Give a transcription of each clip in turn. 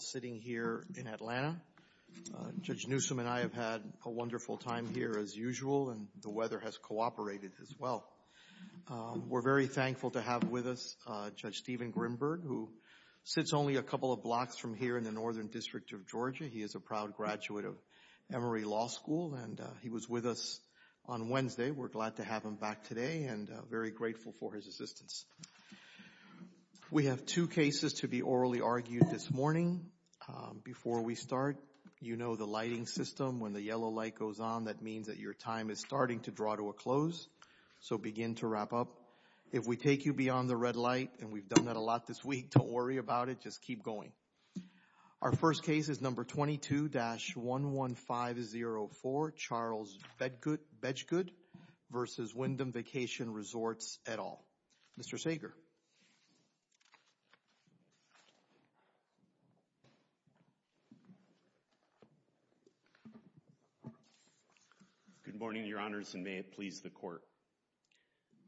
sitting here in Atlanta. Judge Newsom and I have had a wonderful time here as usual, and the weather has cooperated as well. We're very thankful to have with us Judge Steven Grimberg, who sits only a couple of blocks from here in the Northern District of Georgia. He is a proud graduate of Emory Law School, and he was with us on Wednesday. We're glad to have him back today and very grateful for his assistance. We have two cases to be orally argued this morning. Before we start, you know the lighting system. When the yellow light goes on, that means that your time is starting to draw to a close, so begin to wrap up. If we take you beyond the red light, and we've done that a lot this week, don't worry about it. Just keep going. Our first case is No. 22-11504, Charles Bedgood v. Wyndham Vacation Resorts, et al. Mr. Sager. Good morning, Your Honors, and may it please the Court.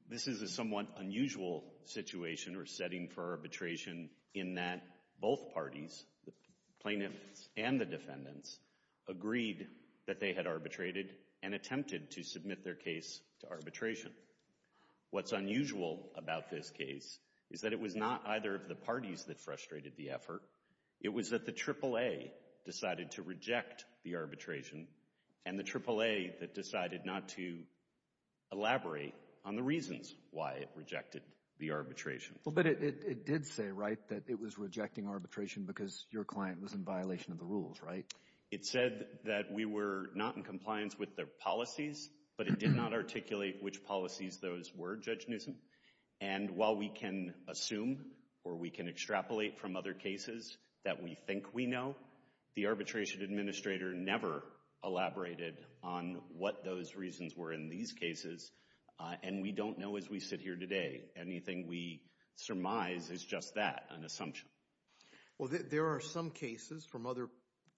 This is a somewhat unusual situation or setting for arbitration in that both parties, the plaintiffs and the defendants, agreed that they had arbitrated and attempted to submit their case to arbitration. What's unusual about this case is that it was not either of the parties that frustrated the effort. It was that the AAA decided to reject the arbitration and the AAA that decided not to elaborate on the reasons why it rejected the arbitration. Well, but it did say, right, that it was rejecting arbitration because your client was in violation of the rules, right? It said that we were not in compliance with their policies, but it did not articulate which policies those were, Judge Newsom, and while we can assume or we can extrapolate from other cases that we think we know, the arbitration administrator never elaborated on what those reasons were in these cases, and we don't know as we sit here today. Anything we surmise is just that, an assumption. Well, there are some cases from other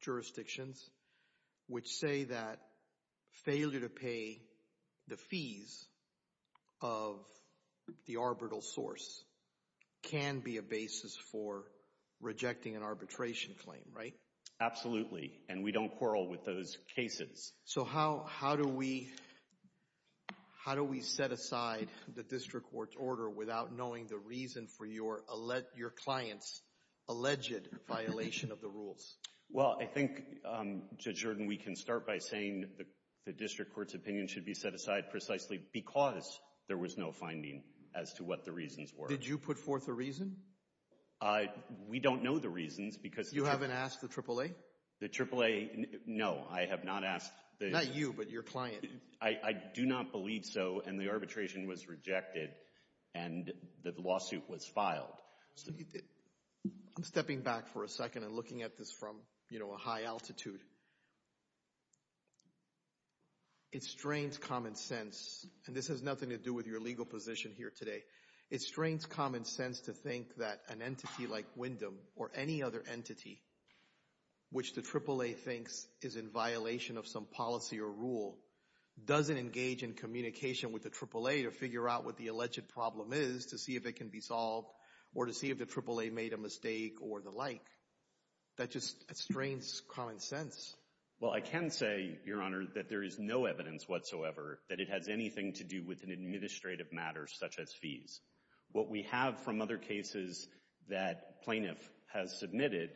jurisdictions which say that failure to pay the fees of the arbitral source can be a basis for rejecting an arbitration claim, right? Absolutely, and we don't quarrel with those cases. So how do we set aside the district court's order without knowing the reason for your client's alleged violation of the rules? Well, I think, Judge Jordan, we can start by saying the district court's opinion should be set aside precisely because there was no finding as to what the reasons were. Did you put forth a reason? We don't know the reasons because— You haven't asked the AAA? The AAA? No, I have not asked the— Not you, but your client. I do not believe so, and the arbitration was rejected, and the lawsuit was filed. I'm stepping back for a second and looking at this from, you know, a high altitude. It strains common sense, and this has nothing to do with your legal position here today. It strains common sense to think that an entity like Wyndham or any other entity which the AAA thinks is in violation of some policy or rule doesn't engage in communication with the AAA to figure out what the alleged problem is to see if it can be solved or to see if the AAA made a mistake or the like. That just strains common sense. Well, I can say, Your Honor, that there is no evidence whatsoever that it has anything to do with an administrative matter such as fees. What we have from other cases that plaintiff has submitted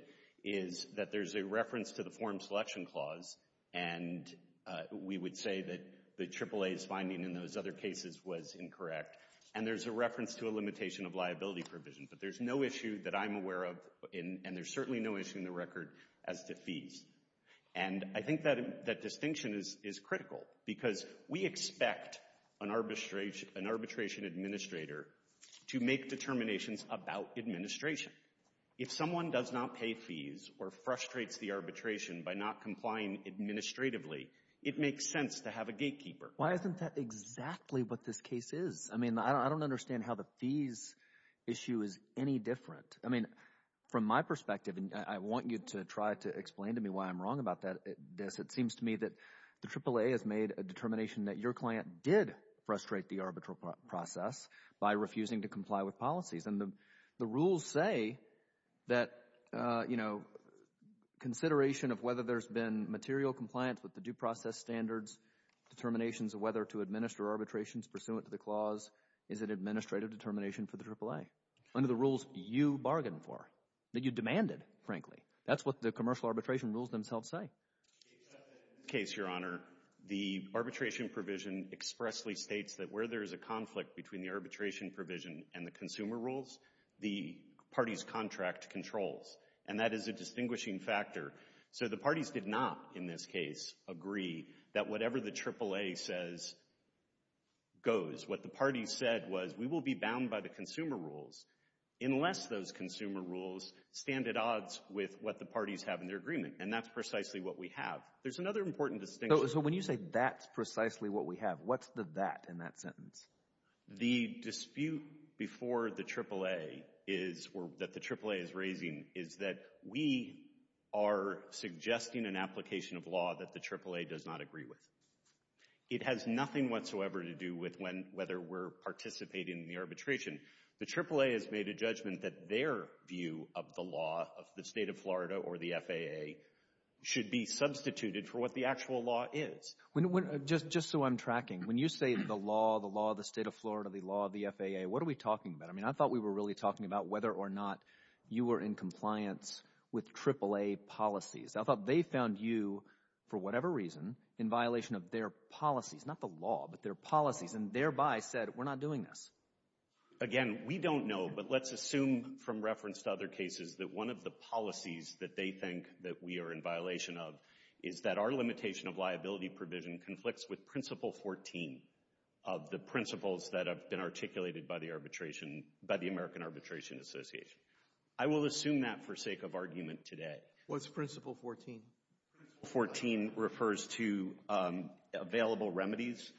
is that there's a reference to the form selection clause, and we would say that the AAA's finding in those other cases was incorrect, and there's a reference to a limitation of liability provision. But there's no issue that I'm aware of, and there's certainly no issue in the record, as to fees. And I think that distinction is critical, because we expect an arbitration administrator to make determinations about administration. If someone does not pay fees or frustrates the arbitration by not complying administratively, it makes sense to have a gatekeeper. Why isn't that exactly what this case is? I mean, I don't understand how the fees issue is any different. I mean, from my perspective, and I want you to try to explain to me why I'm wrong about this, it seems to me that the AAA has made a determination that your client did frustrate the arbitral process by refusing to comply with policies. And the rules say that, you know, consideration of whether there's been material compliance with the due process standards, determinations of whether to administer arbitrations pursuant to the clause is an administrative determination for the AAA. Under the rules you bargained for, that you demanded, frankly. That's what the commercial arbitration rules themselves say. In this case, Your Honor, the arbitration provision expressly states that where there is a conflict between the arbitration provision and the consumer rules, the party's contract controls. And that is a distinguishing factor. So the parties did not, in this case, agree that whatever the AAA says goes. What the parties said was we will be bound by the consumer rules unless those consumer rules stand at odds with what the parties have in their agreement. And that's precisely what we have. There's another important distinction. So when you say that's precisely what we have, what's the that in that sentence? The dispute before the AAA is, or that the AAA is raising, is that we are suggesting an application of law that the AAA does not agree with. It has nothing whatsoever to do with whether we're participating in the arbitration. The AAA has made a judgment that their view of the law of the state of Florida or the FAA should be substituted for what the actual law is. Just so I'm tracking, when you say the law, the law of the state of Florida, the law of the FAA, what are we talking about? I mean, I thought we were really talking about whether or not you were in compliance with AAA policies. I thought they found you, for whatever reason, in violation of their policies. Not the law, but their policies, and thereby said we're not doing this. Again, we don't know, but let's assume from reference to other cases that one of the policies that they think that we are in violation of is that our limitation of liability provision conflicts with Principle 14 of the principles that have been articulated by the arbitration, by the American Arbitration Association. I will assume that for sake of argument today. What's Principle 14? Principle 14 refers to available remedies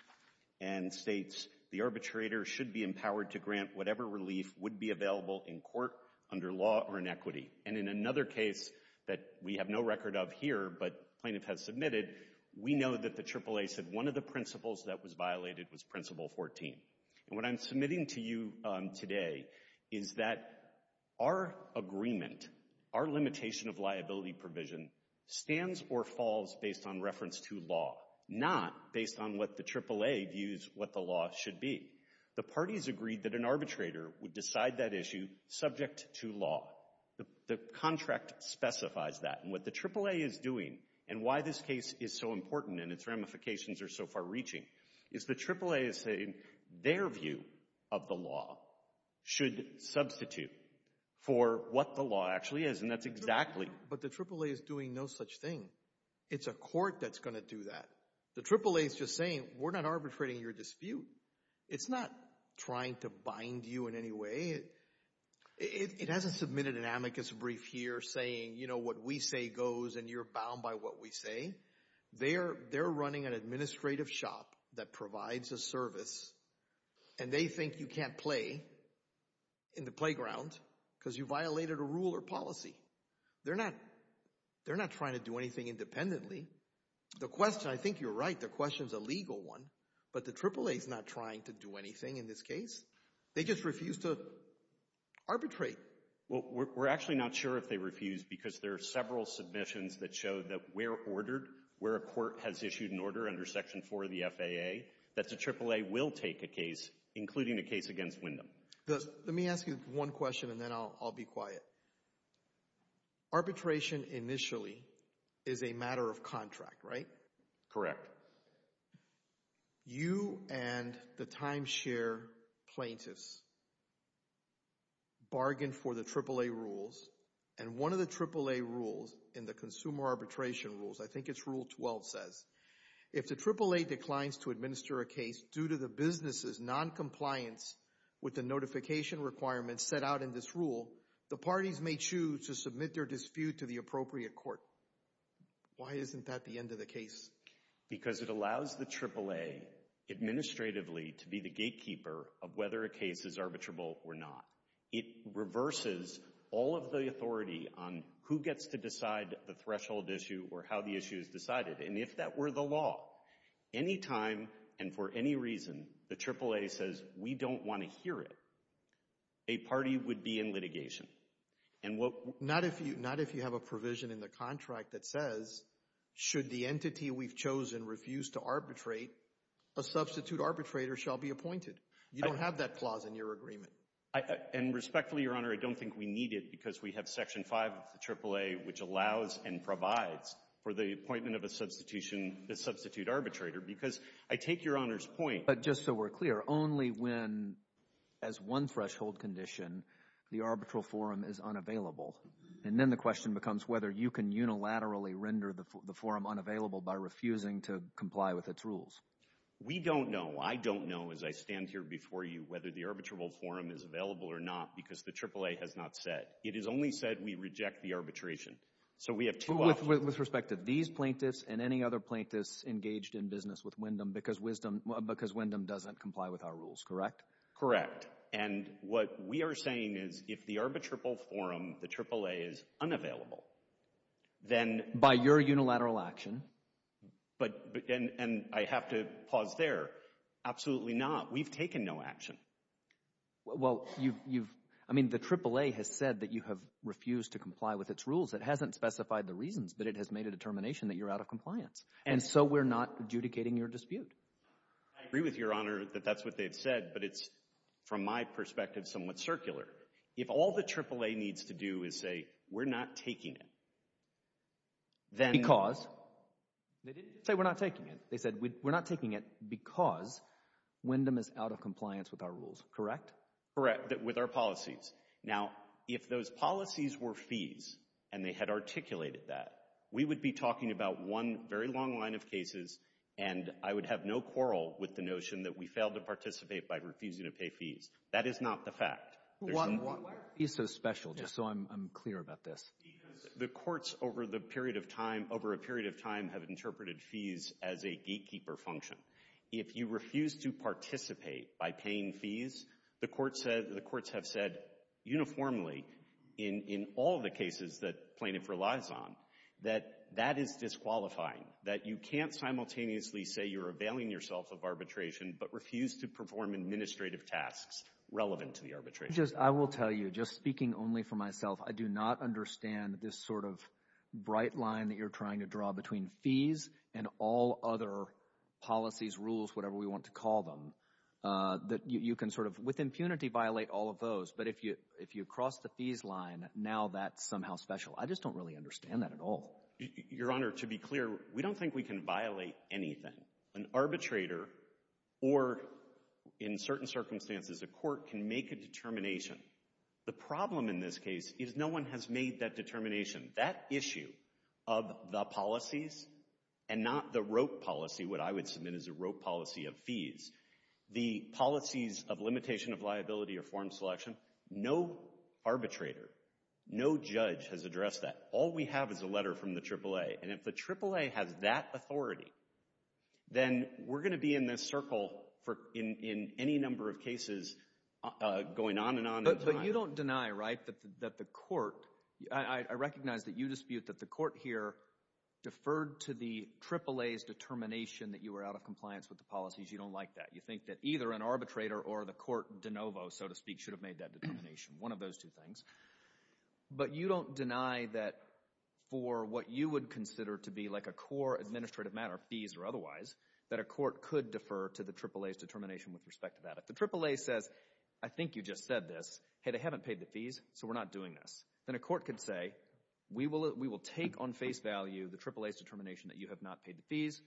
and states the arbitrator should be empowered to grant whatever relief would be available in court under law or in equity. And in another case that we have no record of here, but plaintiff has submitted, we know that the AAA said one of the principles that was violated was Principle 14. And what I'm submitting to you today is that our agreement, our limitation of liability provision, stands or falls based on reference to law, not based on what the AAA views what the law should be. The parties agreed that an arbitrator would decide that issue subject to law. The contract specifies that, and what the AAA is doing, and why this case is so important and its ramifications are so far reaching, is the AAA is saying their view of the law should substitute for what the law actually is, and that's exactly. But the AAA is doing no such thing. It's a court that's going to do that. The AAA is just saying, we're not arbitrating your dispute. It's not trying to bind you in any way. It hasn't submitted an amicus brief here saying, you know, what we say goes and you're bound by what we say. They're running an administrative shop that provides a service, and they think you can't play in the playground because you violated a rule or policy. They're not trying to do anything independently. The question, I think you're right, the question is a legal one, but the AAA is not trying to do anything in this case. They just refuse to arbitrate. We're actually not sure if they refuse because there are several submissions that show that where ordered, where a court has issued an order under Section 4 of the FAA, that the AAA will take a case, including a case against Wyndham. Let me ask you one question, and then I'll be quiet. Arbitration initially is a matter of contract, right? Correct. You and the timeshare plaintiffs bargain for the AAA rules, and one of the AAA rules in the Consumer Arbitration Rules, I think it's Rule 12, says, if the AAA declines to administer a case due to the business's noncompliance with the notification requirements set out in this rule, the parties may choose to submit their dispute to the appropriate court. Why isn't that the end of the case? Because it allows the AAA administratively to be the gatekeeper of whether a case is arbitrable or not. It reverses all of the authority on who gets to decide the threshold issue or how the issue is decided, and if that were the law, any time and for any reason the AAA says, we don't want to hear it, a party would be in litigation. Not if you have a provision in the contract that says, should the entity we've chosen refuse to arbitrate, a substitute arbitrator shall be appointed. You don't have that clause in your agreement. And respectfully, Your Honor, I don't think we need it because we have Section 5 of the AAA, which allows and provides for the appointment of a substitution, a substitute arbitrator, because I take Your Honor's point. But just so we're clear, only when, as one threshold condition, the arbitral forum is unavailable. And then the question becomes whether you can unilaterally render the forum unavailable by refusing to comply with its rules. We don't know. I don't know, as I stand here before you, whether the arbitrable forum is available or not because the AAA has not said. It has only said we reject the arbitration. So we have two options. With respect to these plaintiffs and any other plaintiffs engaged in business with Wyndham, because Wyndham doesn't comply with our rules, correct? Correct. And what we are saying is if the arbitrable forum, the AAA, is unavailable, then— By your unilateral action. And I have to pause there. Absolutely not. We've taken no action. Well, you've—I mean, the AAA has said that you have refused to comply with its rules. It hasn't specified the reasons, but it has made a determination that you're out of compliance. And so we're not adjudicating your dispute. I agree with Your Honor that that's what they've said, but it's, from my perspective, somewhat circular. If all the AAA needs to do is say we're not taking it, then— Because? They didn't say we're not taking it. They said we're not taking it because Wyndham is out of compliance with our rules, correct? Correct, with our policies. Now, if those policies were fees and they had articulated that, we would be talking about one very long line of cases, and I would have no quarrel with the notion that we failed to participate by refusing to pay fees. That is not the fact. Why are fees so special, just so I'm clear about this? Because the courts over the period of time, over a period of time, have interpreted fees as a gatekeeper function. If you refuse to participate by paying fees, the courts have said uniformly in all the cases that plaintiff relies on, that that is disqualifying, that you can't simultaneously say you're availing yourself of arbitration but refuse to perform administrative tasks relevant to the arbitration. I will tell you, just speaking only for myself, I do not understand this sort of bright line that you're trying to draw between fees and all other policies, rules, whatever we want to call them, that you can sort of, with impunity, violate all of those, but if you cross the fees line, now that's somehow special. I just don't really understand that at all. Your Honor, to be clear, we don't think we can violate anything. An arbitrator or, in certain circumstances, a court can make a determination. The problem in this case is no one has made that determination. That issue of the policies and not the rope policy, what I would submit as a rope policy of fees, the policies of limitation of liability or form selection, no arbitrator, no judge has addressed that. All we have is a letter from the AAA, and if the AAA has that authority, then we're going to be in this circle in any number of cases going on and on in time. But you don't deny, right, that the court, I recognize that you dispute that the court here deferred to the AAA's determination that you were out of compliance with the policies. You don't like that. You think that either an arbitrator or the court de novo, so to speak, should have made that determination. One of those two things. But you don't deny that for what you would consider to be like a core administrative matter, fees or otherwise, that a court could defer to the AAA's determination with respect to that. The AAA says, I think you just said this, hey, they haven't paid the fees, so we're not doing this. Then a court could say, we will take on face value the AAA's determination that you have not paid the fees,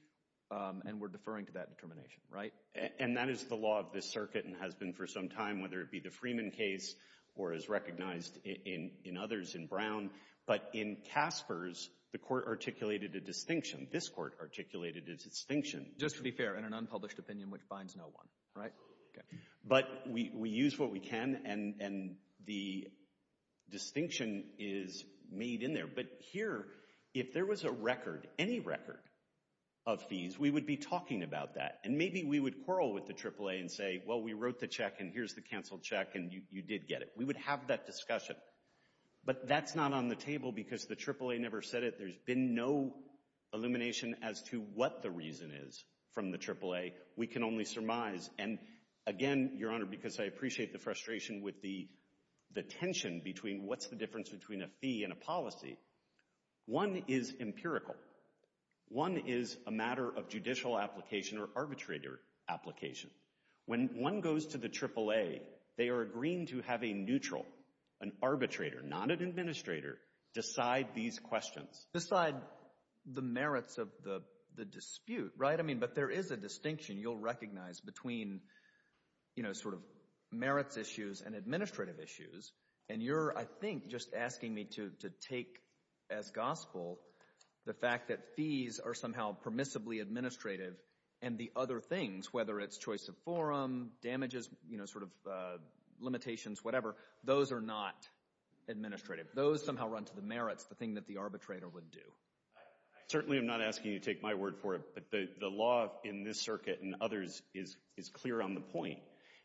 and we're deferring to that determination, right? And that is the law of this circuit and has been for some time, whether it be the Freeman case or is recognized in others in Brown. But in Casper's, the court articulated a distinction. This court articulated a distinction. Just to be fair, in an unpublished opinion which binds no one, right? But we use what we can, and the distinction is made in there. But here, if there was a record, any record of fees, we would be talking about that. And maybe we would quarrel with the AAA and say, well, we wrote the check, and here's the canceled check, and you did get it. We would have that discussion. But that's not on the table because the AAA never said it. There's been no illumination as to what the reason is from the AAA. We can only surmise, and again, Your Honor, because I appreciate the frustration with the tension between what's the difference between a fee and a policy. One is empirical. One is a matter of judicial application or arbitrator application. When one goes to the AAA, they are agreeing to have a neutral, an arbitrator, not an administrator, decide these questions. Decide the merits of the dispute, right? But there is a distinction you'll recognize between sort of merits issues and administrative issues. And you're, I think, just asking me to take as gospel the fact that fees are somehow permissibly administrative and the other things, whether it's choice of forum, damages, sort of limitations, whatever, those are not administrative. Those somehow run to the merits, the thing that the arbitrator would do. I certainly am not asking you to take my word for it, but the law in this circuit and others is clear on the point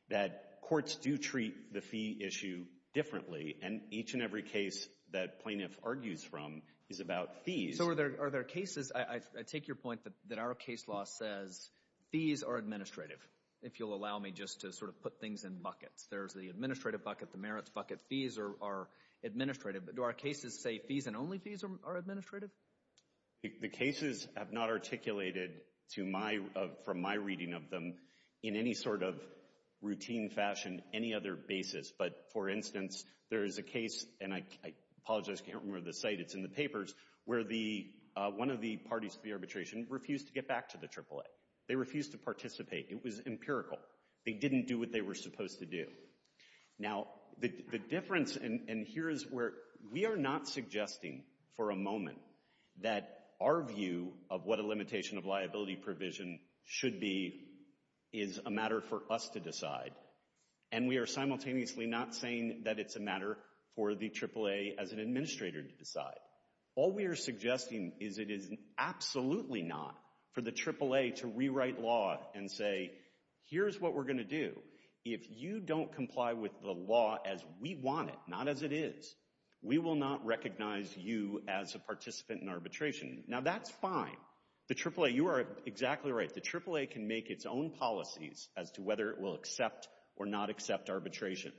that courts do treat the fee issue differently, and each and every case that plaintiff argues from is about fees. So are there cases, I take your point that our case law says fees are administrative, if you'll allow me just to sort of put things in buckets. There's the administrative bucket, the merits bucket, fees are administrative. But do our cases say fees and only fees are administrative? The cases have not articulated from my reading of them in any sort of routine fashion, any other basis. But, for instance, there is a case, and I apologize, I can't remember the site, it's in the papers, where one of the parties to the arbitration refused to get back to the AAA. They refused to participate. It was empirical. They didn't do what they were supposed to do. Now, the difference, and here is where we are not suggesting for a moment that our view of what a limitation of liability provision should be is a matter for us to decide, and we are simultaneously not saying that it's a matter for the AAA as an administrator to decide. All we are suggesting is it is absolutely not for the AAA to rewrite law and say, here's what we're going to do. If you don't comply with the law as we want it, not as it is, we will not recognize you as a participant in arbitration. Now, that's fine. The AAA, you are exactly right. The AAA can make its own policies as to whether it will accept or not accept arbitration.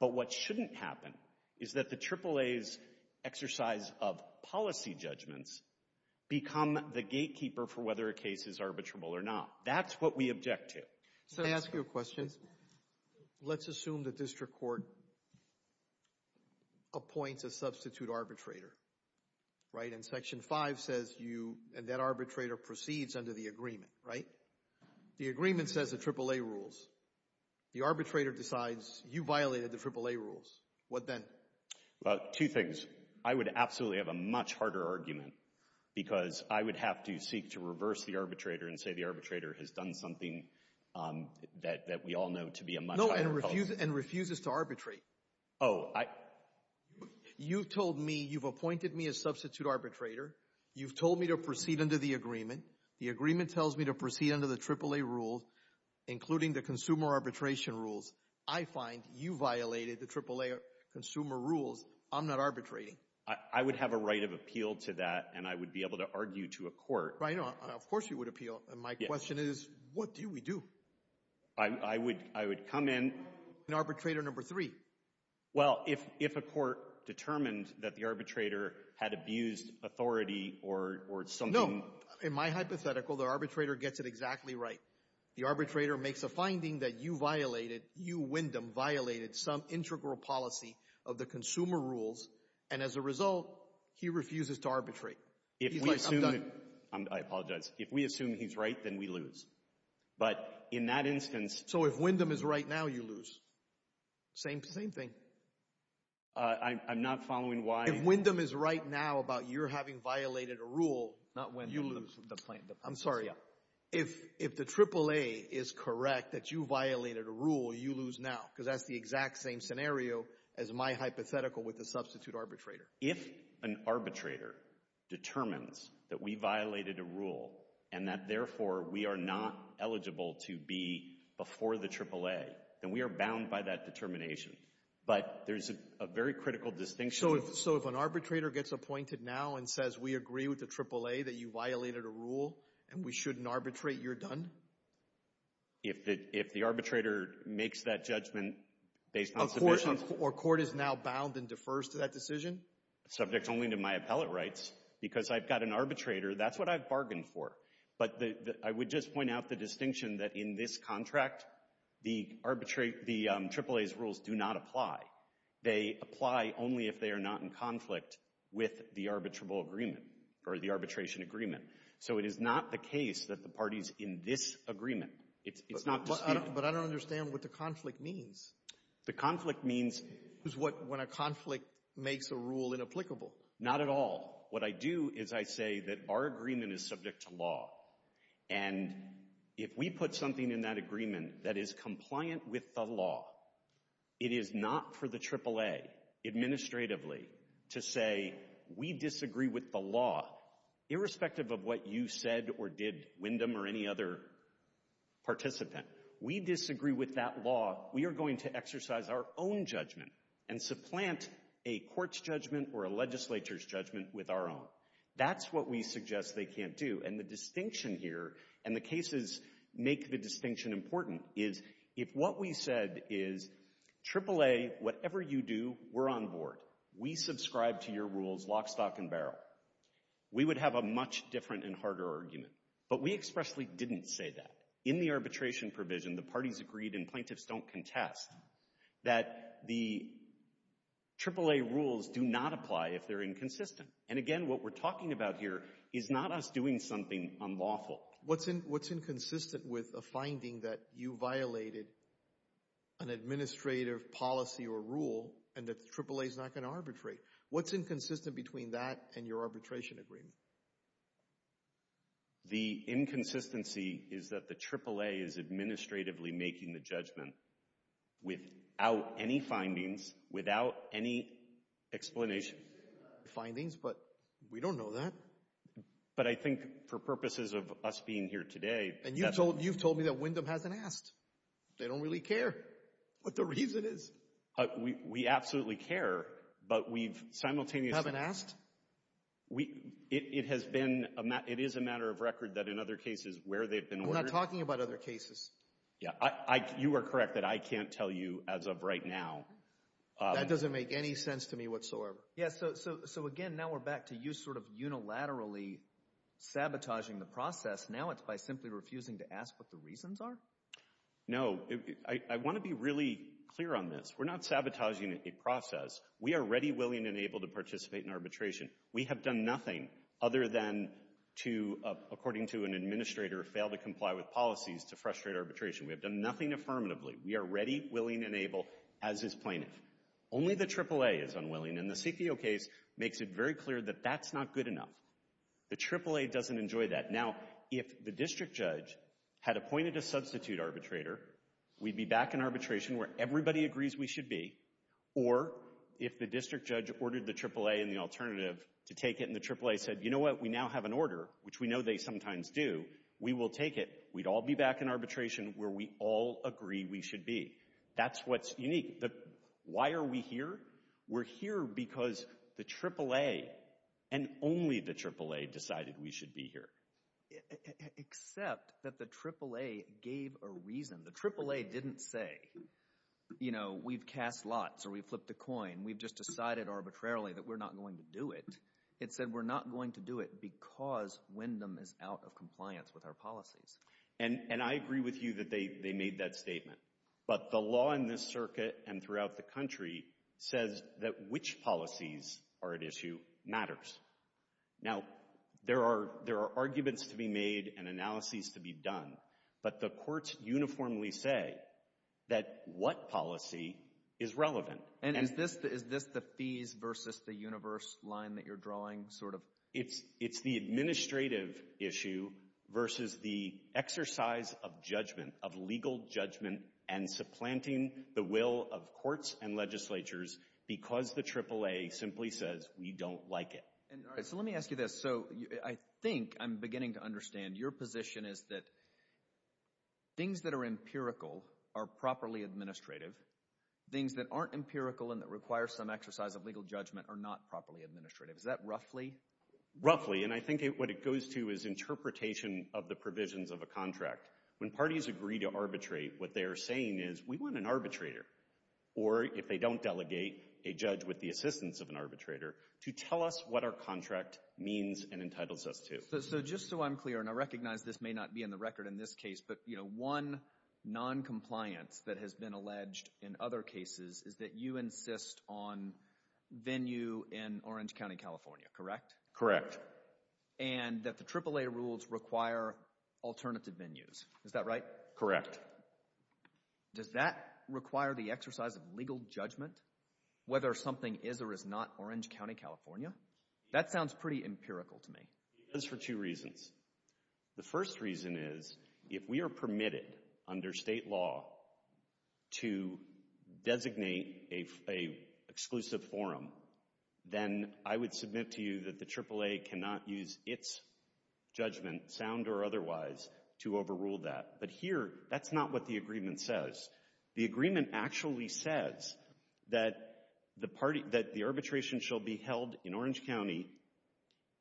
But what shouldn't happen is that the AAA's exercise of policy judgments become the gatekeeper for whether a case is arbitrable or not. That's what we object to. Can I ask you a question? Let's assume the district court appoints a substitute arbitrator, right? And Section 5 says you, and that arbitrator proceeds under the agreement, right? The agreement says the AAA rules. The arbitrator decides you violated the AAA rules. What then? Well, two things. I would absolutely have a much harder argument because I would have to seek to reverse the arbitrator and say the arbitrator has done something that we all know to be a much higher policy. No, and refuses to arbitrate. Oh. You've told me, you've appointed me a substitute arbitrator. You've told me to proceed under the agreement. The agreement tells me to proceed under the AAA rules, including the consumer arbitration rules. I find you violated the AAA consumer rules. I'm not arbitrating. I would have a right of appeal to that, and I would be able to argue to a court. Of course you would appeal. My question is, what do we do? I would come in. Arbitrator number three. Well, if a court determined that the arbitrator had abused authority or something. In my hypothetical, the arbitrator gets it exactly right. The arbitrator makes a finding that you violated, you Wyndham, violated some integral policy of the consumer rules, and as a result, he refuses to arbitrate. He's like, I'm done. I apologize. If we assume he's right, then we lose. But in that instance. So if Wyndham is right now, you lose. Same thing. I'm not following why. If Wyndham is right now about your having violated a rule. Not Wyndham. You lose. I'm sorry. Yeah. If the AAA is correct that you violated a rule, you lose now, because that's the exact same scenario as my hypothetical with the substitute arbitrator. If an arbitrator determines that we violated a rule and that, therefore, we are not eligible to be before the AAA, then we are bound by that determination. But there's a very critical distinction. So if an arbitrator gets appointed now and says we agree with the AAA that you violated a rule and we shouldn't arbitrate, you're done? If the arbitrator makes that judgment based on submission. Of course. Or court is now bound and defers to that decision? Subject only to my appellate rights, because I've got an arbitrator. That's what I've bargained for. But I would just point out the distinction that in this contract, the AAA's rules do not apply. They apply only if they are not in conflict with the arbitrable agreement or the arbitration agreement. So it is not the case that the party is in this agreement. It's not disputed. But I don't understand what the conflict means. The conflict means. When a conflict makes a rule inapplicable. Not at all. What I do is I say that our agreement is subject to law. And if we put something in that agreement that is compliant with the law, it is not for the AAA administratively to say we disagree with the law. Irrespective of what you said or did, Wyndham or any other participant. We disagree with that law. We are going to exercise our own judgment and supplant a court's judgment or a legislature's judgment with our own. That's what we suggest they can't do. And the distinction here, and the cases make the distinction important, is if what we said is AAA, whatever you do, we're on board. We subscribe to your rules lock, stock, and barrel. We would have a much different and harder argument. But we expressly didn't say that. In the arbitration provision, the parties agreed and plaintiffs don't contest that the AAA rules do not apply if they're inconsistent. And again, what we're talking about here is not us doing something unlawful. What's inconsistent with a finding that you violated an administrative policy or rule and that the AAA is not going to arbitrate? What's inconsistent between that and your arbitration agreement? The inconsistency is that the AAA is administratively making the judgment without any findings, without any explanation. Findings, but we don't know that. But I think for purposes of us being here today— And you've told me that Wyndham hasn't asked. They don't really care what the reason is. We absolutely care, but we've simultaneously— Haven't asked? It has been—it is a matter of record that in other cases where they've been— I'm not talking about other cases. Yeah, you are correct that I can't tell you as of right now. That doesn't make any sense to me whatsoever. Yeah, so again, now we're back to you sort of unilaterally sabotaging the process. Now it's by simply refusing to ask what the reasons are? No, I want to be really clear on this. We're not sabotaging a process. We are ready, willing, and able to participate in arbitration. We have done nothing other than to, according to an administrator, fail to comply with policies to frustrate arbitration. We have done nothing affirmatively. We are ready, willing, and able, as is plaintiff. Only the AAA is unwilling, and the CFIO case makes it very clear that that's not good enough. The AAA doesn't enjoy that. Now, if the district judge had appointed a substitute arbitrator, we'd be back in arbitration where everybody agrees we should be, or if the district judge ordered the AAA and the alternative to take it, and the AAA said, you know what? We now have an order, which we know they sometimes do. We will take it. We'd all be back in arbitration where we all agree we should be. That's what's unique. Why are we here? We're here because the AAA, and only the AAA, decided we should be here. Except that the AAA gave a reason. The AAA didn't say, you know, we've cast lots or we've flipped a coin. We've just decided arbitrarily that we're not going to do it. It said we're not going to do it because Wyndham is out of compliance with our policies. And I agree with you that they made that statement. But the law in this circuit and throughout the country says that which policies are at issue matters. Now, there are arguments to be made and analyses to be done, but the courts uniformly say that what policy is relevant. And is this the fees versus the universe line that you're drawing sort of? It's the administrative issue versus the exercise of judgment, of legal judgment, and supplanting the will of courts and legislatures because the AAA simply says we don't like it. All right, so let me ask you this. So I think I'm beginning to understand your position is that things that are empirical are properly administrative. Things that aren't empirical and that require some exercise of legal judgment are not properly administrative. Is that roughly? Roughly, and I think what it goes to is interpretation of the provisions of a contract. When parties agree to arbitrate, what they are saying is we want an arbitrator, or if they don't delegate, a judge with the assistance of an arbitrator, to tell us what our contract means and entitles us to. So just so I'm clear, and I recognize this may not be in the record in this case, but, you know, one noncompliance that has been alleged in other cases is that you insist on venue in Orange County, California, correct? Correct. And that the AAA rules require alternative venues, is that right? Correct. Does that require the exercise of legal judgment, whether something is or is not Orange County, California? That sounds pretty empirical to me. It does for two reasons. The first reason is if we are permitted under state law to designate an exclusive forum, then I would submit to you that the AAA cannot use its judgment, sound or otherwise, to overrule that. But here, that's not what the agreement says. The agreement actually says that the arbitration shall be held in Orange County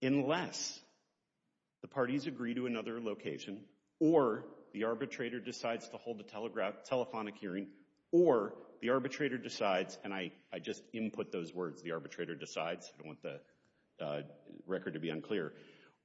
unless the parties agree to another location, or the arbitrator decides to hold a telephonic hearing, or the arbitrator decides, and I just input those words, the arbitrator decides, I don't want the record to be unclear,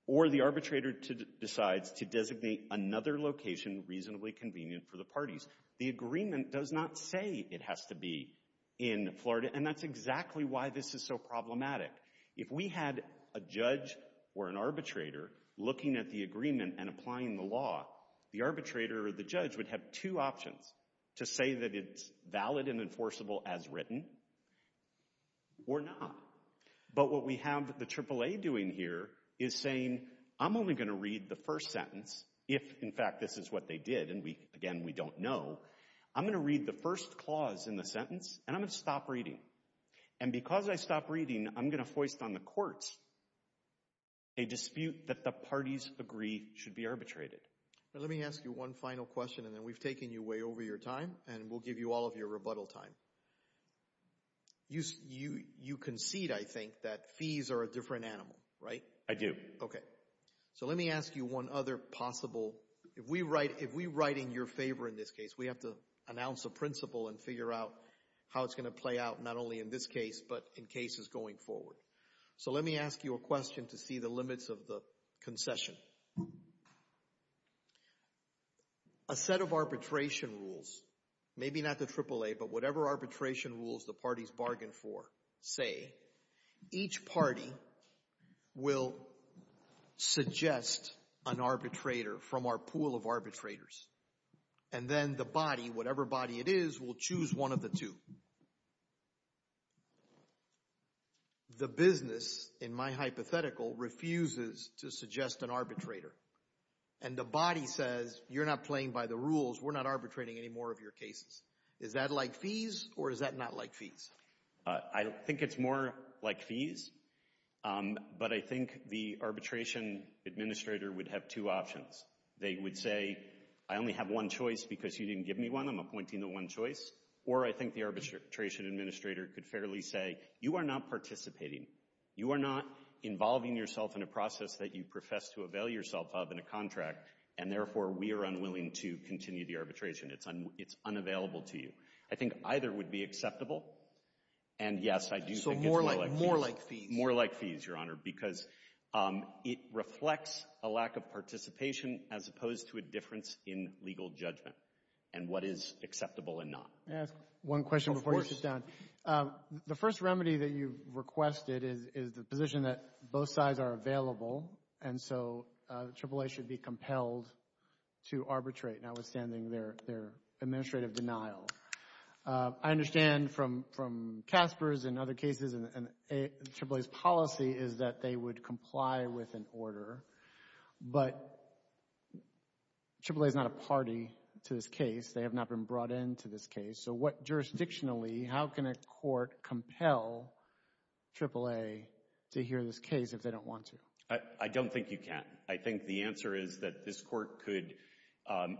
or the arbitrator decides to designate another location reasonably convenient for the parties. The agreement does not say it has to be in Florida, and that's exactly why this is so problematic. If we had a judge or an arbitrator looking at the agreement and applying the law, the arbitrator or the judge would have two options, to say that it's valid and enforceable as written or not. But what we have the AAA doing here is saying, I'm only going to read the first sentence if, in fact, this is what they did, and again, we don't know. I'm going to read the first clause in the sentence, and I'm going to stop reading. And because I stopped reading, I'm going to foist on the courts a dispute that the parties agree should be arbitrated. Let me ask you one final question, and then we've taken you way over your time, and we'll give you all of your rebuttal time. You concede, I think, that fees are a different animal, right? I do. Okay. So let me ask you one other possible, if we write in your favor in this case, we have to announce a principle and figure out how it's going to play out, not only in this case, but in cases going forward. So let me ask you a question to see the limits of the concession. A set of arbitration rules, maybe not the AAA, but whatever arbitration rules the parties bargain for, say, each party will suggest an arbitrator from our pool of arbitrators, and then the body, whatever body it is, will choose one of the two. The business, in my hypothetical, refuses to suggest an arbitrator, and the body says, you're not playing by the rules, we're not arbitrating any more of your cases. Is that like fees, or is that not like fees? I think it's more like fees, but I think the arbitration administrator would have two options. They would say, I only have one choice because you didn't give me one, I'm appointing the one choice, or I think the arbitration administrator could fairly say, you are not participating. You are not involving yourself in a process that you profess to avail yourself of in a contract, and therefore we are unwilling to continue the arbitration. It's unavailable to you. I think either would be acceptable, and, yes, I do think it's more like fees. So more like fees. as opposed to a difference in legal judgment, and what is acceptable and not. May I ask one question before you sit down? Of course. The first remedy that you've requested is the position that both sides are available, and so AAA should be compelled to arbitrate, notwithstanding their administrative denial. I understand from Casper's and other cases, and AAA's policy is that they would comply with an order, but AAA is not a party to this case. They have not been brought into this case. So what jurisdictionally, how can a court compel AAA to hear this case if they don't want to? I don't think you can. I think the answer is that this court could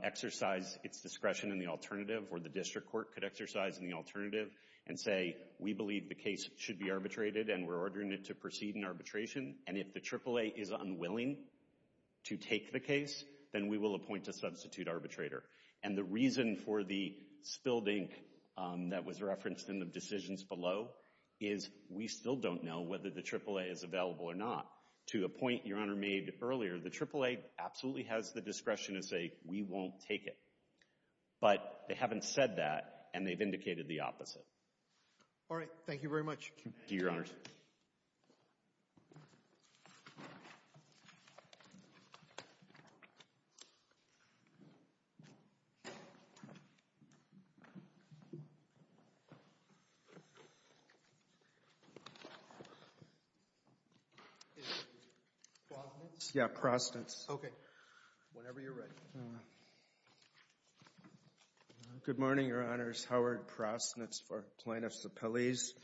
exercise its discretion in the alternative, or the district court could exercise in the alternative and say, we believe the case should be arbitrated and we're ordering it to proceed in arbitration, and if the AAA is unwilling to take the case, then we will appoint a substitute arbitrator. And the reason for the spilled ink that was referenced in the decisions below is we still don't know whether the AAA is available or not. To a point Your Honor made earlier, the AAA absolutely has the discretion to say, we won't take it. But they haven't said that, and they've indicated the opposite. All right. Thank you very much. Thank you, Your Honors. Thank you. Prosnitz? Yeah, Prosnitz. Okay. Whenever you're ready. Good morning, Your Honors. Howard Prosnitz for Plaintiffs Appellees.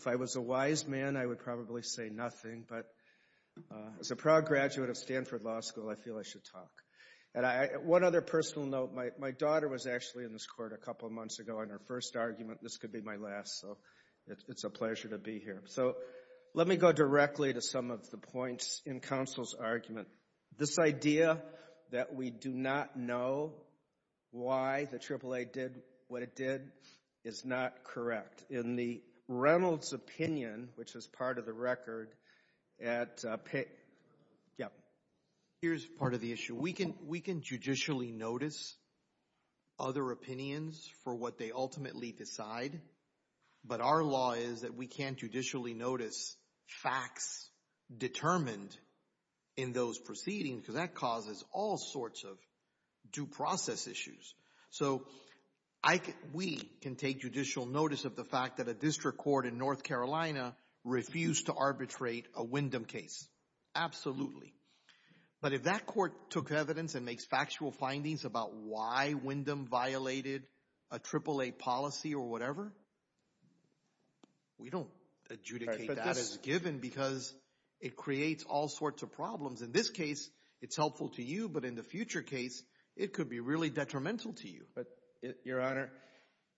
If I was a wise man, I would probably say nothing, but as a proud graduate of Stanford Law School, I feel I should talk. And one other personal note, my daughter was actually in this court a couple of months ago on her first argument. This could be my last, so it's a pleasure to be here. So let me go directly to some of the points in counsel's argument. This idea that we do not know why the AAA did what it did is not correct. In the Reynolds opinion, which is part of the record, at... Yeah. Here's part of the issue. We can judicially notice other opinions for what they ultimately decide, but our law is that we can't judicially notice facts determined in those proceedings, because that causes all sorts of due process issues. So we can take judicial notice of the fact that a district court in North Carolina refused to arbitrate a Wyndham case. Absolutely. But if that court took evidence and makes factual findings about why Wyndham violated a AAA policy or whatever, we don't adjudicate that as given because it creates all sorts of problems. In this case, it's helpful to you, but in the future case, it could be really detrimental to you. But, Your Honor,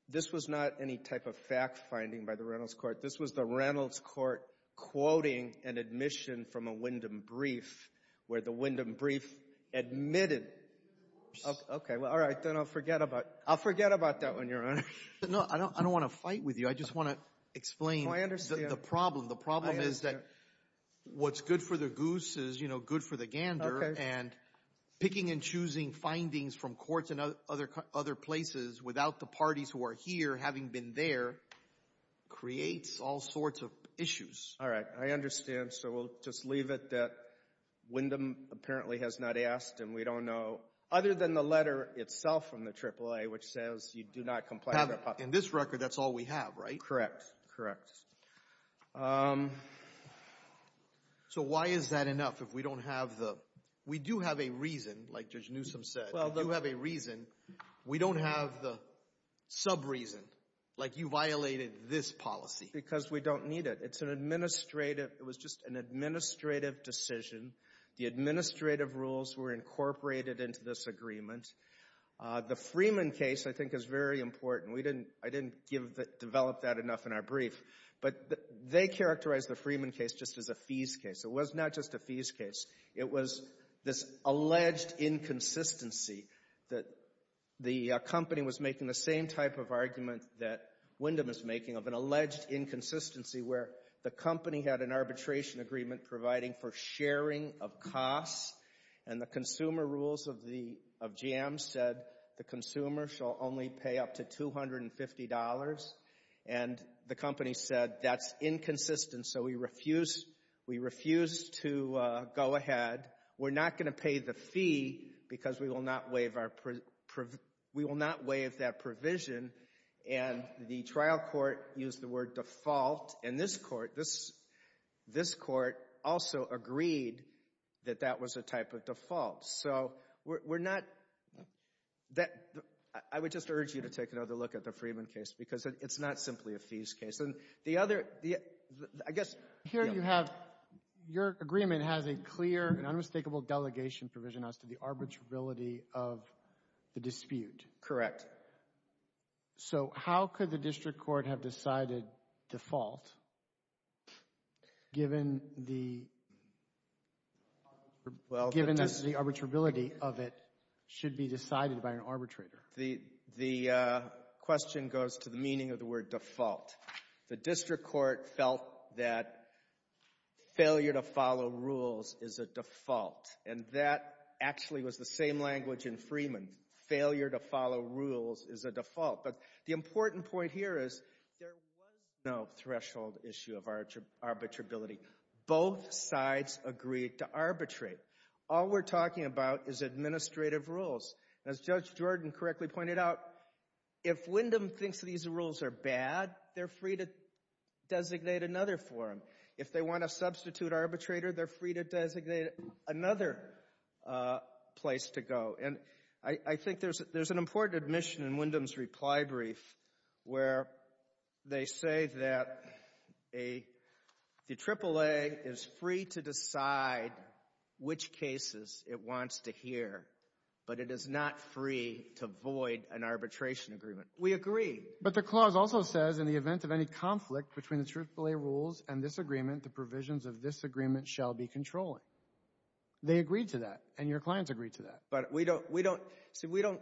this was not any type of fact finding by the Reynolds court. This was the Reynolds court quoting an admission from a Wyndham brief where the Wyndham brief admitted... Okay. Well, all right. Then I'll forget about that one, Your Honor. No, I don't want to fight with you. I just want to explain the problem. The problem is that what's good for the goose is good for the gander, and picking and choosing findings from courts and other places without the parties who are here having been there creates all sorts of issues. All right. I understand. So we'll just leave it that Wyndham apparently has not asked, and we don't know, other than the letter itself from the AAA, which says you do not complain about... In this record, that's all we have, right? Correct. Correct. So why is that enough if we don't have the... We do have a reason, like Judge Newsom said. We do have a reason. We don't have the sub-reason, like you violated this policy. Because we don't need it. It's an administrative... It was just an administrative decision. The administrative rules were incorporated into this agreement. The Freeman case, I think, is very important. I didn't develop that enough in our brief, but they characterized the Freeman case just as a fees case. It was not just a fees case. It was this alleged inconsistency that the company was making the same type of argument that Wyndham is making of an alleged inconsistency where the company had an arbitration agreement providing for sharing of costs, and the consumer rules of GM said the consumer shall only pay up to $250. And the company said that's inconsistent, so we refuse to go ahead. We're not going to pay the fee because we will not waive that provision. And the trial court used the word default, and this court also agreed that that was a type of default. So we're not... I would just urge you to take another look at the Freeman case because it's not simply a fees case. And the other... Here you have... Your agreement has a clear and unmistakable delegation provision as to the arbitrarility of the dispute. Correct. So how could the district court have decided default given the arbitrability of it should be decided by an arbitrator? The question goes to the meaning of the word default. The district court felt that failure to follow rules is a default, and that actually was the same language in Freeman. Failure to follow rules is a default. But the important point here is there was no threshold issue of arbitrability. Both sides agreed to arbitrate. All we're talking about is administrative rules. As Judge Jordan correctly pointed out, if Wyndham thinks these rules are bad, they're free to designate another forum. If they want to substitute arbitrator, they're free to designate another place to go. And I think there's an important admission in Wyndham's reply brief where they say that the AAA is free to decide which cases it wants to hear, but it is not free to void an arbitration agreement. We agree. But the clause also says, in the event of any conflict between the AAA rules and this agreement, the provisions of this agreement shall be controlling. They agreed to that, and your clients agreed to that. But we don't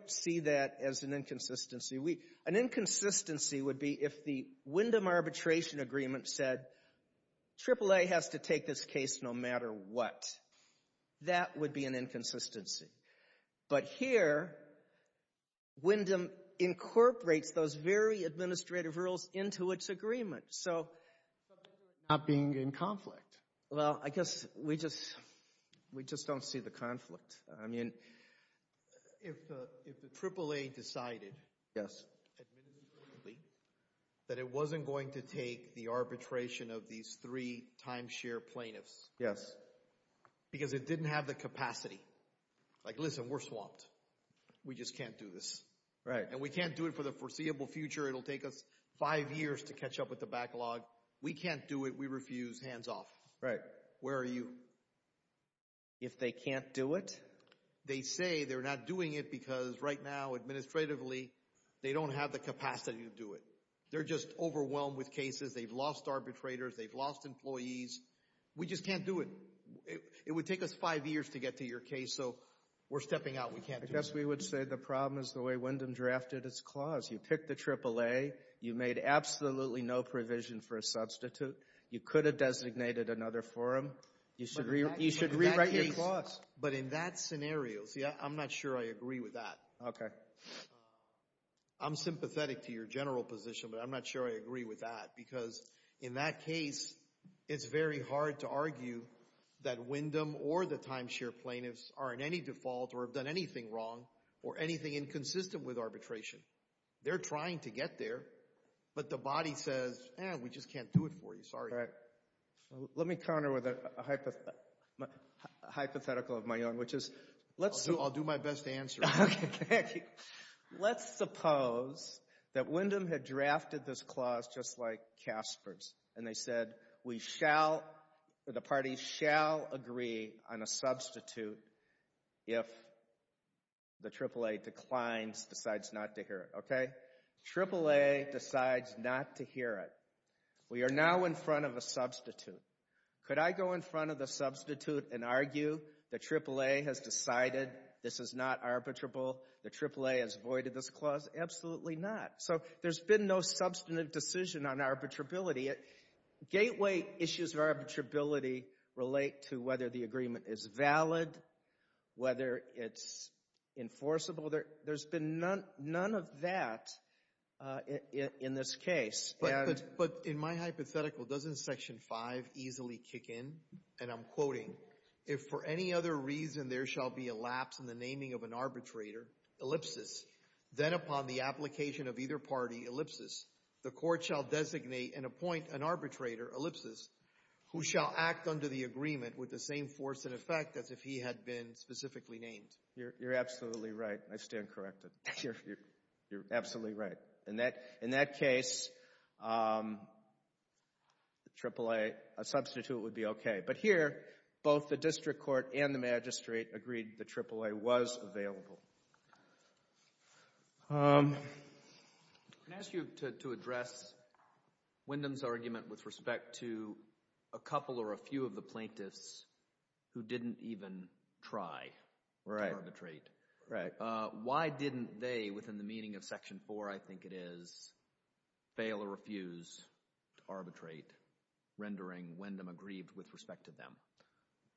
see that as an inconsistency. An inconsistency would be if the Wyndham arbitration agreement said, AAA has to take this case no matter what. That would be an inconsistency. But here, Wyndham incorporates those very administrative rules into its agreement. Not being in conflict. Well, I guess we just don't see the conflict. I mean, if the AAA decided administratively that it wasn't going to take the arbitration of these three timeshare plaintiffs because it didn't have the capacity. Like, listen, we're swamped. We just can't do this. And we can't do it for the foreseeable future. It'll take us five years to catch up with the backlog. We can't do it. We refuse. Hands off. Right. Where are you? If they can't do it? They say they're not doing it because right now, administratively, they don't have the capacity to do it. They're just overwhelmed with cases. They've lost arbitrators. They've lost employees. We just can't do it. It would take us five years to get to your case, so we're stepping out. We can't do it. I guess we would say the problem is the way Wyndham drafted its clause. You picked the AAA. You made absolutely no provision for a substitute. You could have designated another forum. You should rewrite your clause. But in that scenario, see, I'm not sure I agree with that. Okay. I'm sympathetic to your general position, but I'm not sure I agree with that because in that case, it's very hard to argue that Wyndham or the timeshare plaintiffs are in any default or have done anything wrong or anything inconsistent with arbitration. They're trying to get there, but the body says, eh, we just can't do it for you. Sorry. All right. Let me counter with a hypothetical of my own, which is let's see. I'll do my best to answer. Okay. Let's suppose that Wyndham had drafted this clause just like Casper's, and they said we shall or the parties shall agree on a substitute if the AAA declines, decides not to hear it. Okay. AAA decides not to hear it. We are now in front of a substitute. Could I go in front of the substitute and argue the AAA has decided this is not arbitrable, the AAA has voided this clause? Absolutely not. So there's been no substantive decision on arbitrability. Gateway issues of arbitrability relate to whether the agreement is valid, whether it's enforceable. There's been none of that in this case. But in my hypothetical, doesn't Section 5 easily kick in? And I'm quoting, if for any other reason there shall be a lapse in the naming of an arbitrator, ellipsis, then upon the application of either party, ellipsis, the court shall designate and appoint an arbitrator, ellipsis, who shall act under the agreement with the same force and effect as if he had been specifically named. You're absolutely right. I stand corrected. You're absolutely right. In that case, the AAA, a substitute would be okay. But here, both the district court and the magistrate agreed the AAA was available. Can I ask you to address Wendham's argument with respect to a couple or a few of the plaintiffs who didn't even try to arbitrate? Right. Why didn't they, within the meaning of Section 4, I think it is, fail or refuse to arbitrate, rendering Wendham aggrieved with respect to them?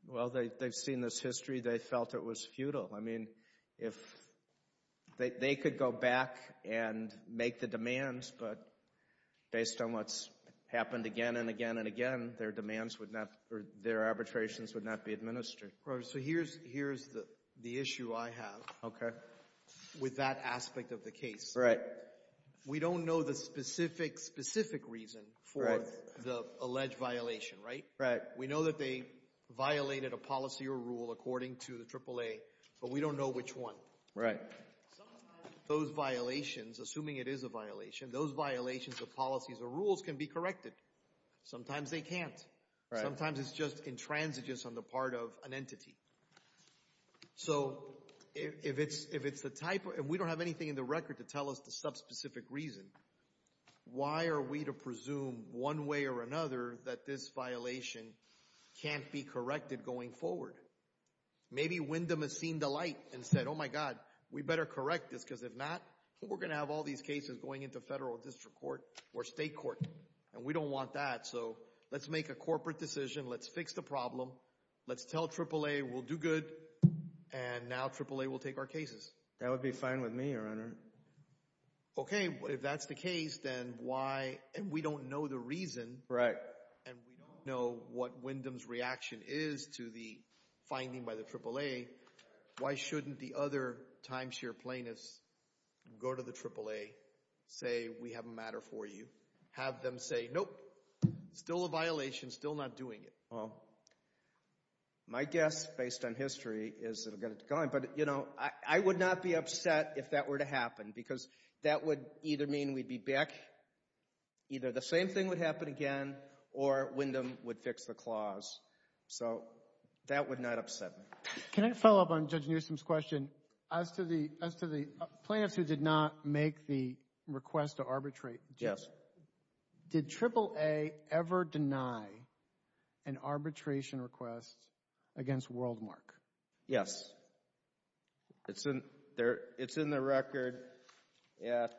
Well, they've seen this history. They felt it was futile. I mean, they could go back and make the demands, but based on what's happened again and again and again, their arbitrations would not be administered. So here's the issue I have with that aspect of the case. Right. We don't know the specific, specific reason for the alleged violation, right? Right. We know that they violated a policy or rule according to the AAA, but we don't know which one. Right. Sometimes those violations, assuming it is a violation, those violations of policies or rules can be corrected. Sometimes they can't. Sometimes it's just intransigent on the part of an entity. So if it's the type of, and we don't have anything in the record to tell us the subspecific reason, why are we to presume, one way or another, that this violation can't be corrected going forward? Maybe Wendham has seen the light and said, oh my God, we better correct this because if not, we're going to have all these cases going into federal district court or state court, and we don't want that. So let's make a corporate decision. Let's fix the problem. Let's tell AAA we'll do good, and now AAA will take our cases. That would be fine with me, Your Honor. Okay. If that's the case, then why, and we don't know the reason. Right. And we don't know what Wendham's reaction is to the finding by the AAA. Why shouldn't the other timeshare plaintiffs go to the AAA, say we have a matter for you, have them say, nope, still a violation, still not doing it? Well, my guess, based on history, is it will get it going. But, you know, I would not be upset if that were to happen because that would either mean we'd be back, either the same thing would happen again, or Wendham would fix the clause. So that would not upset me. Can I follow up on Judge Newsom's question? As to the plaintiffs who did not make the request to arbitrate, did AAA ever deny an arbitration request against WorldMark? Yes. It's in the record at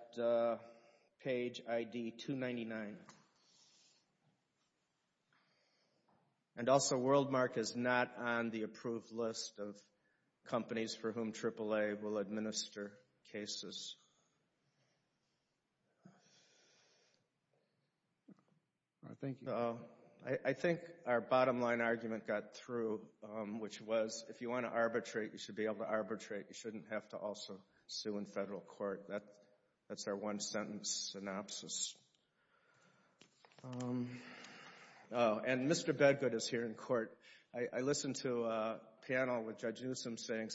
page ID 299. And also, WorldMark is not on the approved list of companies for whom AAA will administer cases. Thank you. I think our bottom line argument got through, which was if you want to arbitrate, you should be able to arbitrate. You shouldn't have to also sue in federal court. That's our one-sentence synopsis. And Mr. Bedgood is here in court. I listened to a panel with Judge Newsom saying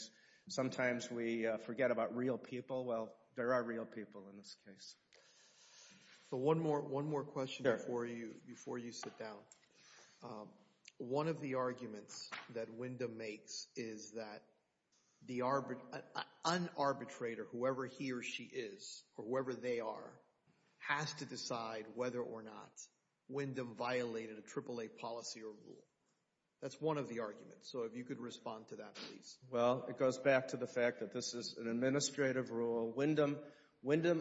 sometimes we forget about real people. Well, there are real people in this case. One more question before you sit down. One of the arguments that Wendham makes is that an arbitrator, whoever he or she is or whoever they are, has to decide whether or not Wendham violated a AAA policy or rule. That's one of the arguments. So if you could respond to that, please. Well, it goes back to the fact that this is an administrative rule. Wendham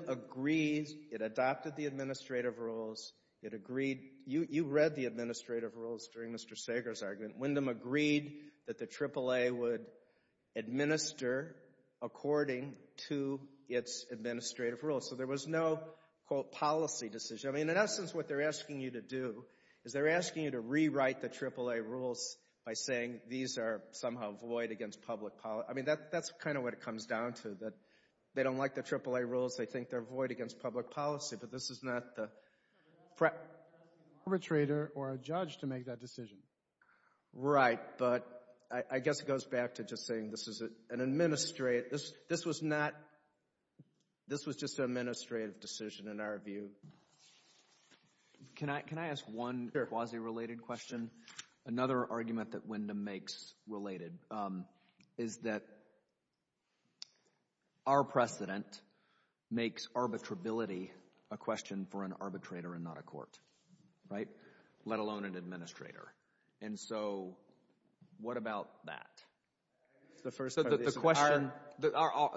agrees it adopted the administrative rules. You read the administrative rules during Mr. Sager's argument. Wendham agreed that the AAA would administer according to its administrative rules. So there was no, quote, policy decision. In essence, what they're asking you to do is they're asking you to rewrite the AAA rules by saying these are somehow void against public policy. I mean, that's kind of what it comes down to, that they don't like the AAA rules. They think they're void against public policy, but this is not the Arbitrator or a judge to make that decision. Right, but I guess it goes back to just saying this was just an administrative decision in our view. Can I ask one quasi-related question? Another argument that Wendham makes related is that our precedent makes arbitrability a question for an arbitrator and not a court, right, let alone an administrator. And so what about that? The first part of the question.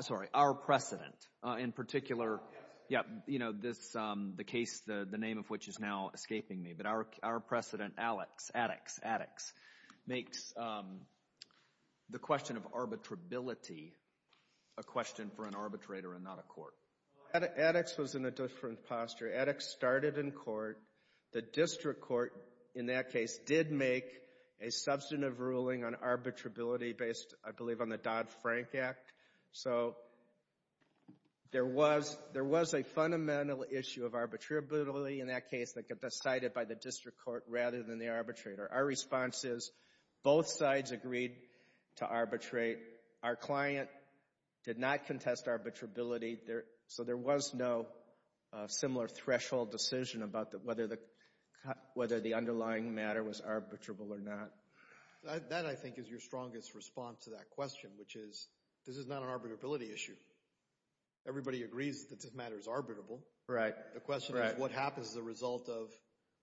Sorry, our precedent. In particular, you know, the case, the name of which is now escaping me, but our precedent, Addix, makes the question of arbitrability a question for an arbitrator and not a court. Addix was in a different posture. Addix started in court. The district court in that case did make a substantive ruling on arbitrability based, I believe, on the Dodd-Frank Act. So there was a fundamental issue of arbitrability in that case that got decided by the district court rather than the arbitrator. Our response is both sides agreed to arbitrate. Our client did not contest arbitrability. So there was no similar threshold decision about whether the underlying matter was arbitrable or not. That, I think, is your strongest response to that question, which is this is not an arbitrability issue. Everybody agrees that this matter is arbitrable. Right. The question is what happens as a result of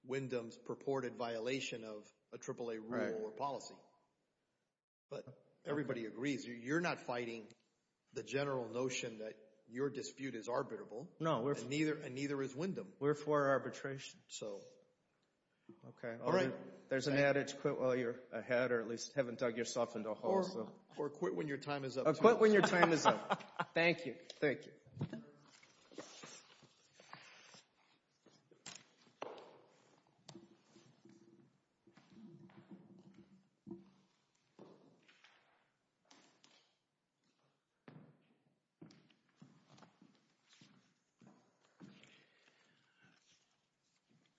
Wyndham's purported violation of a AAA rule or policy. But everybody agrees. You're not fighting the general notion that your dispute is arbitrable. No. And neither is Wyndham. We're for arbitration. Okay. There's an adage, quit while you're ahead or at least haven't dug yourself into a hole. Or quit when your time is up. Or quit when your time is up. Thank you. Thank you.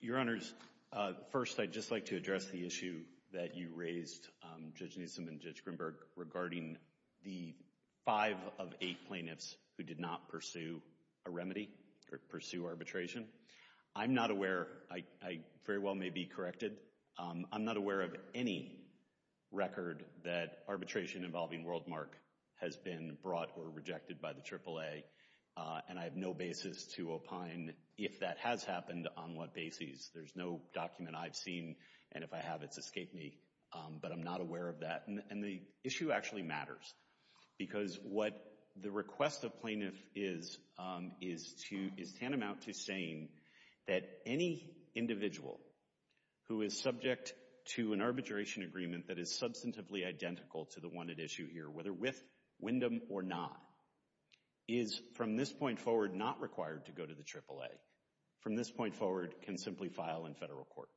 Your Honors, first I'd just like to address the issue that you raised, Judge Newsom and Judge Greenberg, regarding the five of eight plaintiffs who did not pursue a remedy or pursue arbitration. I'm not aware. I very well may be corrected. I'm not aware of any record that arbitration involving Worldmark has been brought or rejected by the AAA. And I have no basis to opine if that has happened on what basis. There's no document I've seen. And if I have, it's escaped me. But I'm not aware of that. And the issue actually matters. Because what the request of plaintiff is tantamount to saying that any individual who is subject to an arbitration agreement that is substantively identical to the one at issue here, whether with Wyndham or not, is from this point forward not required to go to the AAA. From this point forward can simply file in federal court.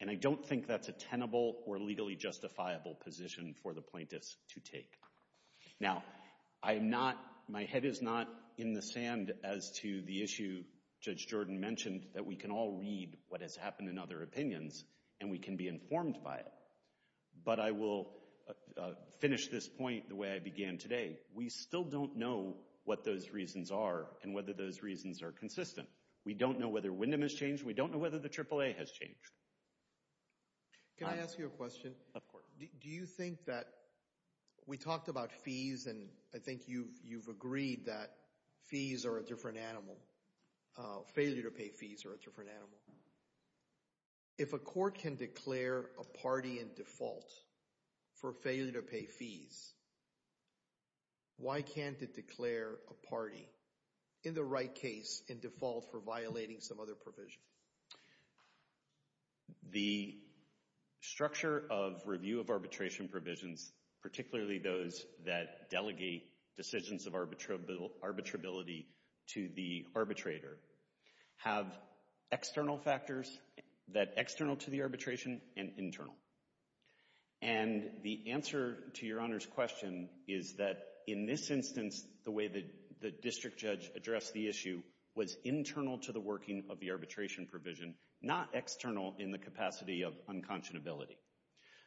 And I don't think that's a tenable or legally justifiable position for the plaintiffs to take. Now, my head is not in the sand as to the issue Judge Jordan mentioned, that we can all read what has happened in other opinions and we can be informed by it. But I will finish this point the way I began today. We still don't know what those reasons are and whether those reasons are consistent. We don't know whether Wyndham has changed. We don't know whether the AAA has changed. Can I ask you a question? Of course. Do you think that we talked about fees and I think you've agreed that fees are a different animal, failure to pay fees are a different animal. If a court can declare a party in default for failure to pay fees, why can't it declare a party in the right case in default for violating some other provision? The structure of review of arbitration provisions, particularly those that delegate decisions of arbitrability to the arbitrator, have external factors that external to the arbitration and internal. And the answer to Your Honor's question is that in this instance, the way the district judge addressed the issue was internal to the working of the arbitration provision, not external in the capacity of unconscionability.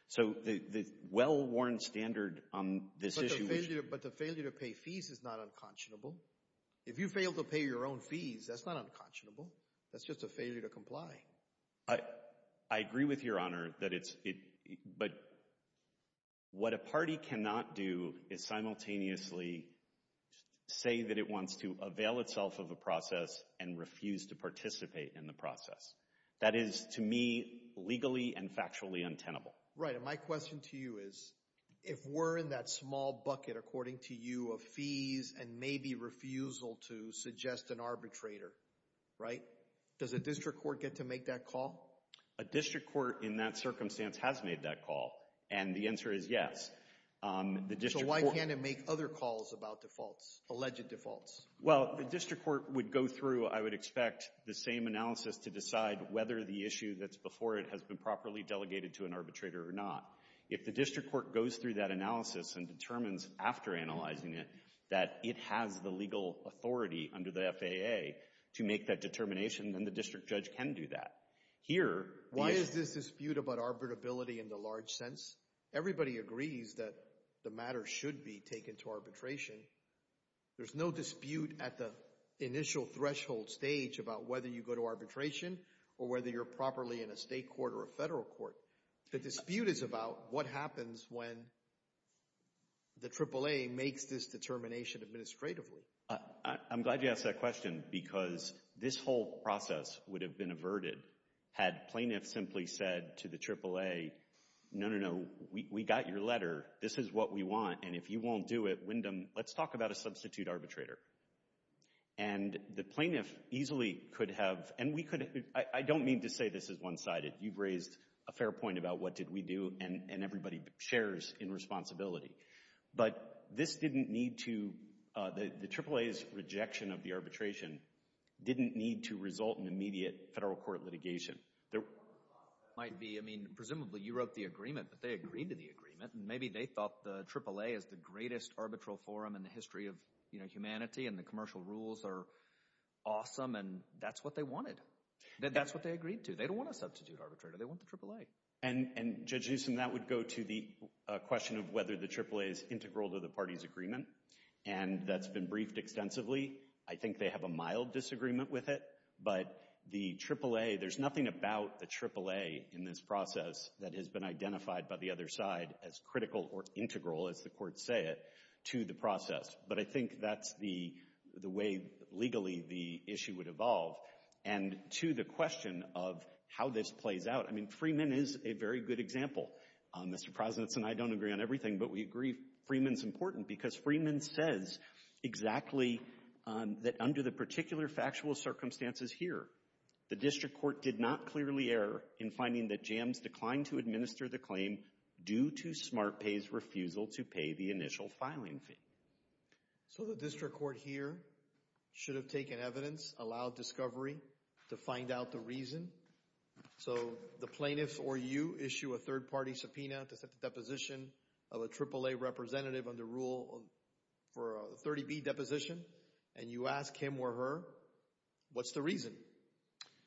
So the well-worn standard on this issue is But the failure to pay fees is not unconscionable. If you fail to pay your own fees, that's not unconscionable. That's just a failure to comply. I agree with Your Honor, but what a party cannot do is simultaneously say that it wants to avail itself of a process and refuse to participate in the process. That is, to me, legally and factually untenable. Right, and my question to you is, if we're in that small bucket, according to you, of fees and maybe refusal to suggest an arbitrator, right? Does a district court get to make that call? A district court in that circumstance has made that call, and the answer is yes. So why can't it make other calls about defaults, alleged defaults? Well, the district court would go through, I would expect, the same analysis to decide whether the issue that's before it has been properly delegated to an arbitrator or not. If the district court goes through that analysis and determines after analyzing it that it has the legal authority under the FAA to make that determination, then the district judge can do that. Why is this dispute about arbitrability in the large sense? Everybody agrees that the matter should be taken to arbitration. There's no dispute at the initial threshold stage about whether you go to arbitration or whether you're properly in a state court or a federal court. The dispute is about what happens when the AAA makes this determination administratively. I'm glad you asked that question because this whole process would have been averted had plaintiffs simply said to the AAA, no, no, no, we got your letter, this is what we want, and if you won't do it, Wyndham, let's talk about a substitute arbitrator. And the plaintiff easily could have, and we could have, I don't mean to say this is one-sided. You've raised a fair point about what did we do, and everybody shares in responsibility. But this didn't need to, the AAA's rejection of the arbitration didn't need to result in immediate federal court litigation. Presumably you wrote the agreement, but they agreed to the agreement, and maybe they thought the AAA is the greatest arbitral forum in the history of humanity and the commercial rules are awesome, and that's what they wanted. That's what they agreed to. They don't want a substitute arbitrator. They want the AAA. And Judge Newsom, that would go to the question of whether the AAA is integral to the party's agreement, and that's been briefed extensively. I think they have a mild disagreement with it, but the AAA, there's nothing about the AAA in this process that has been identified by the other side as critical or integral, as the courts say it, to the process. But I think that's the way legally the issue would evolve. And to the question of how this plays out, I mean, Freeman is a very good example. Mr. Prozenitz and I don't agree on everything, but we agree Freeman's important because Freeman says exactly that under the particular factual circumstances here, the district court did not clearly err in finding that JAMS declined to administer the claim due to SmartPay's refusal to pay the initial filing fee. So the district court here should have taken evidence, allowed discovery to find out the reason. So the plaintiffs or you issue a third-party subpoena to set the deposition of a AAA representative under Rule 30b, Deposition, and you ask him or her, what's the reason?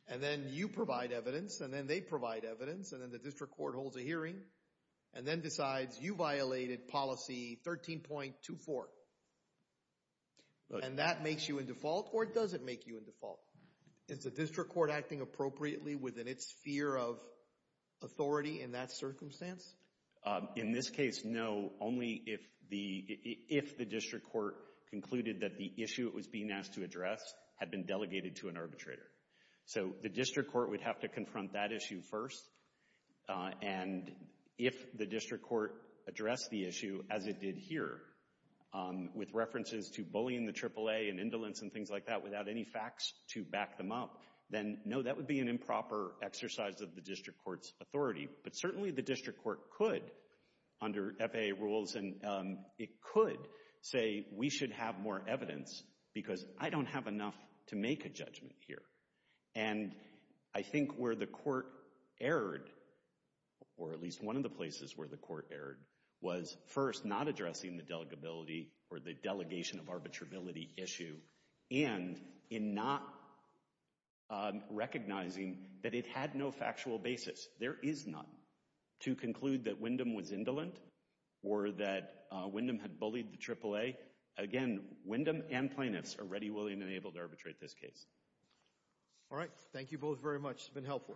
And then you provide evidence, and then they provide evidence, and then the district court holds a hearing and then decides you violated Policy 13.24. And that makes you in default, or it doesn't make you in default. Is the district court acting appropriately within its sphere of authority in that circumstance? In this case, no, only if the district court concluded that the issue it was being asked to address had been delegated to an arbitrator. So the district court would have to confront that issue first, and if the district court addressed the issue as it did here with references to bullying the AAA and indolence and things like that without any facts to back them up, then no, that would be an improper exercise of the district court's authority. But certainly the district court could, under FAA rules, it could say we should have more evidence because I don't have enough to make a judgment here. And I think where the court erred, or at least one of the places where the court erred, was first not addressing the delegability or the delegation of arbitrability issue and in not recognizing that it had no factual basis. There is none to conclude that Wyndham was indolent or that Wyndham had bullied the AAA. Again, Wyndham and plaintiffs are ready, willing, and able to arbitrate this case. All right. Thank you both very much. It's been helpful. Thank you.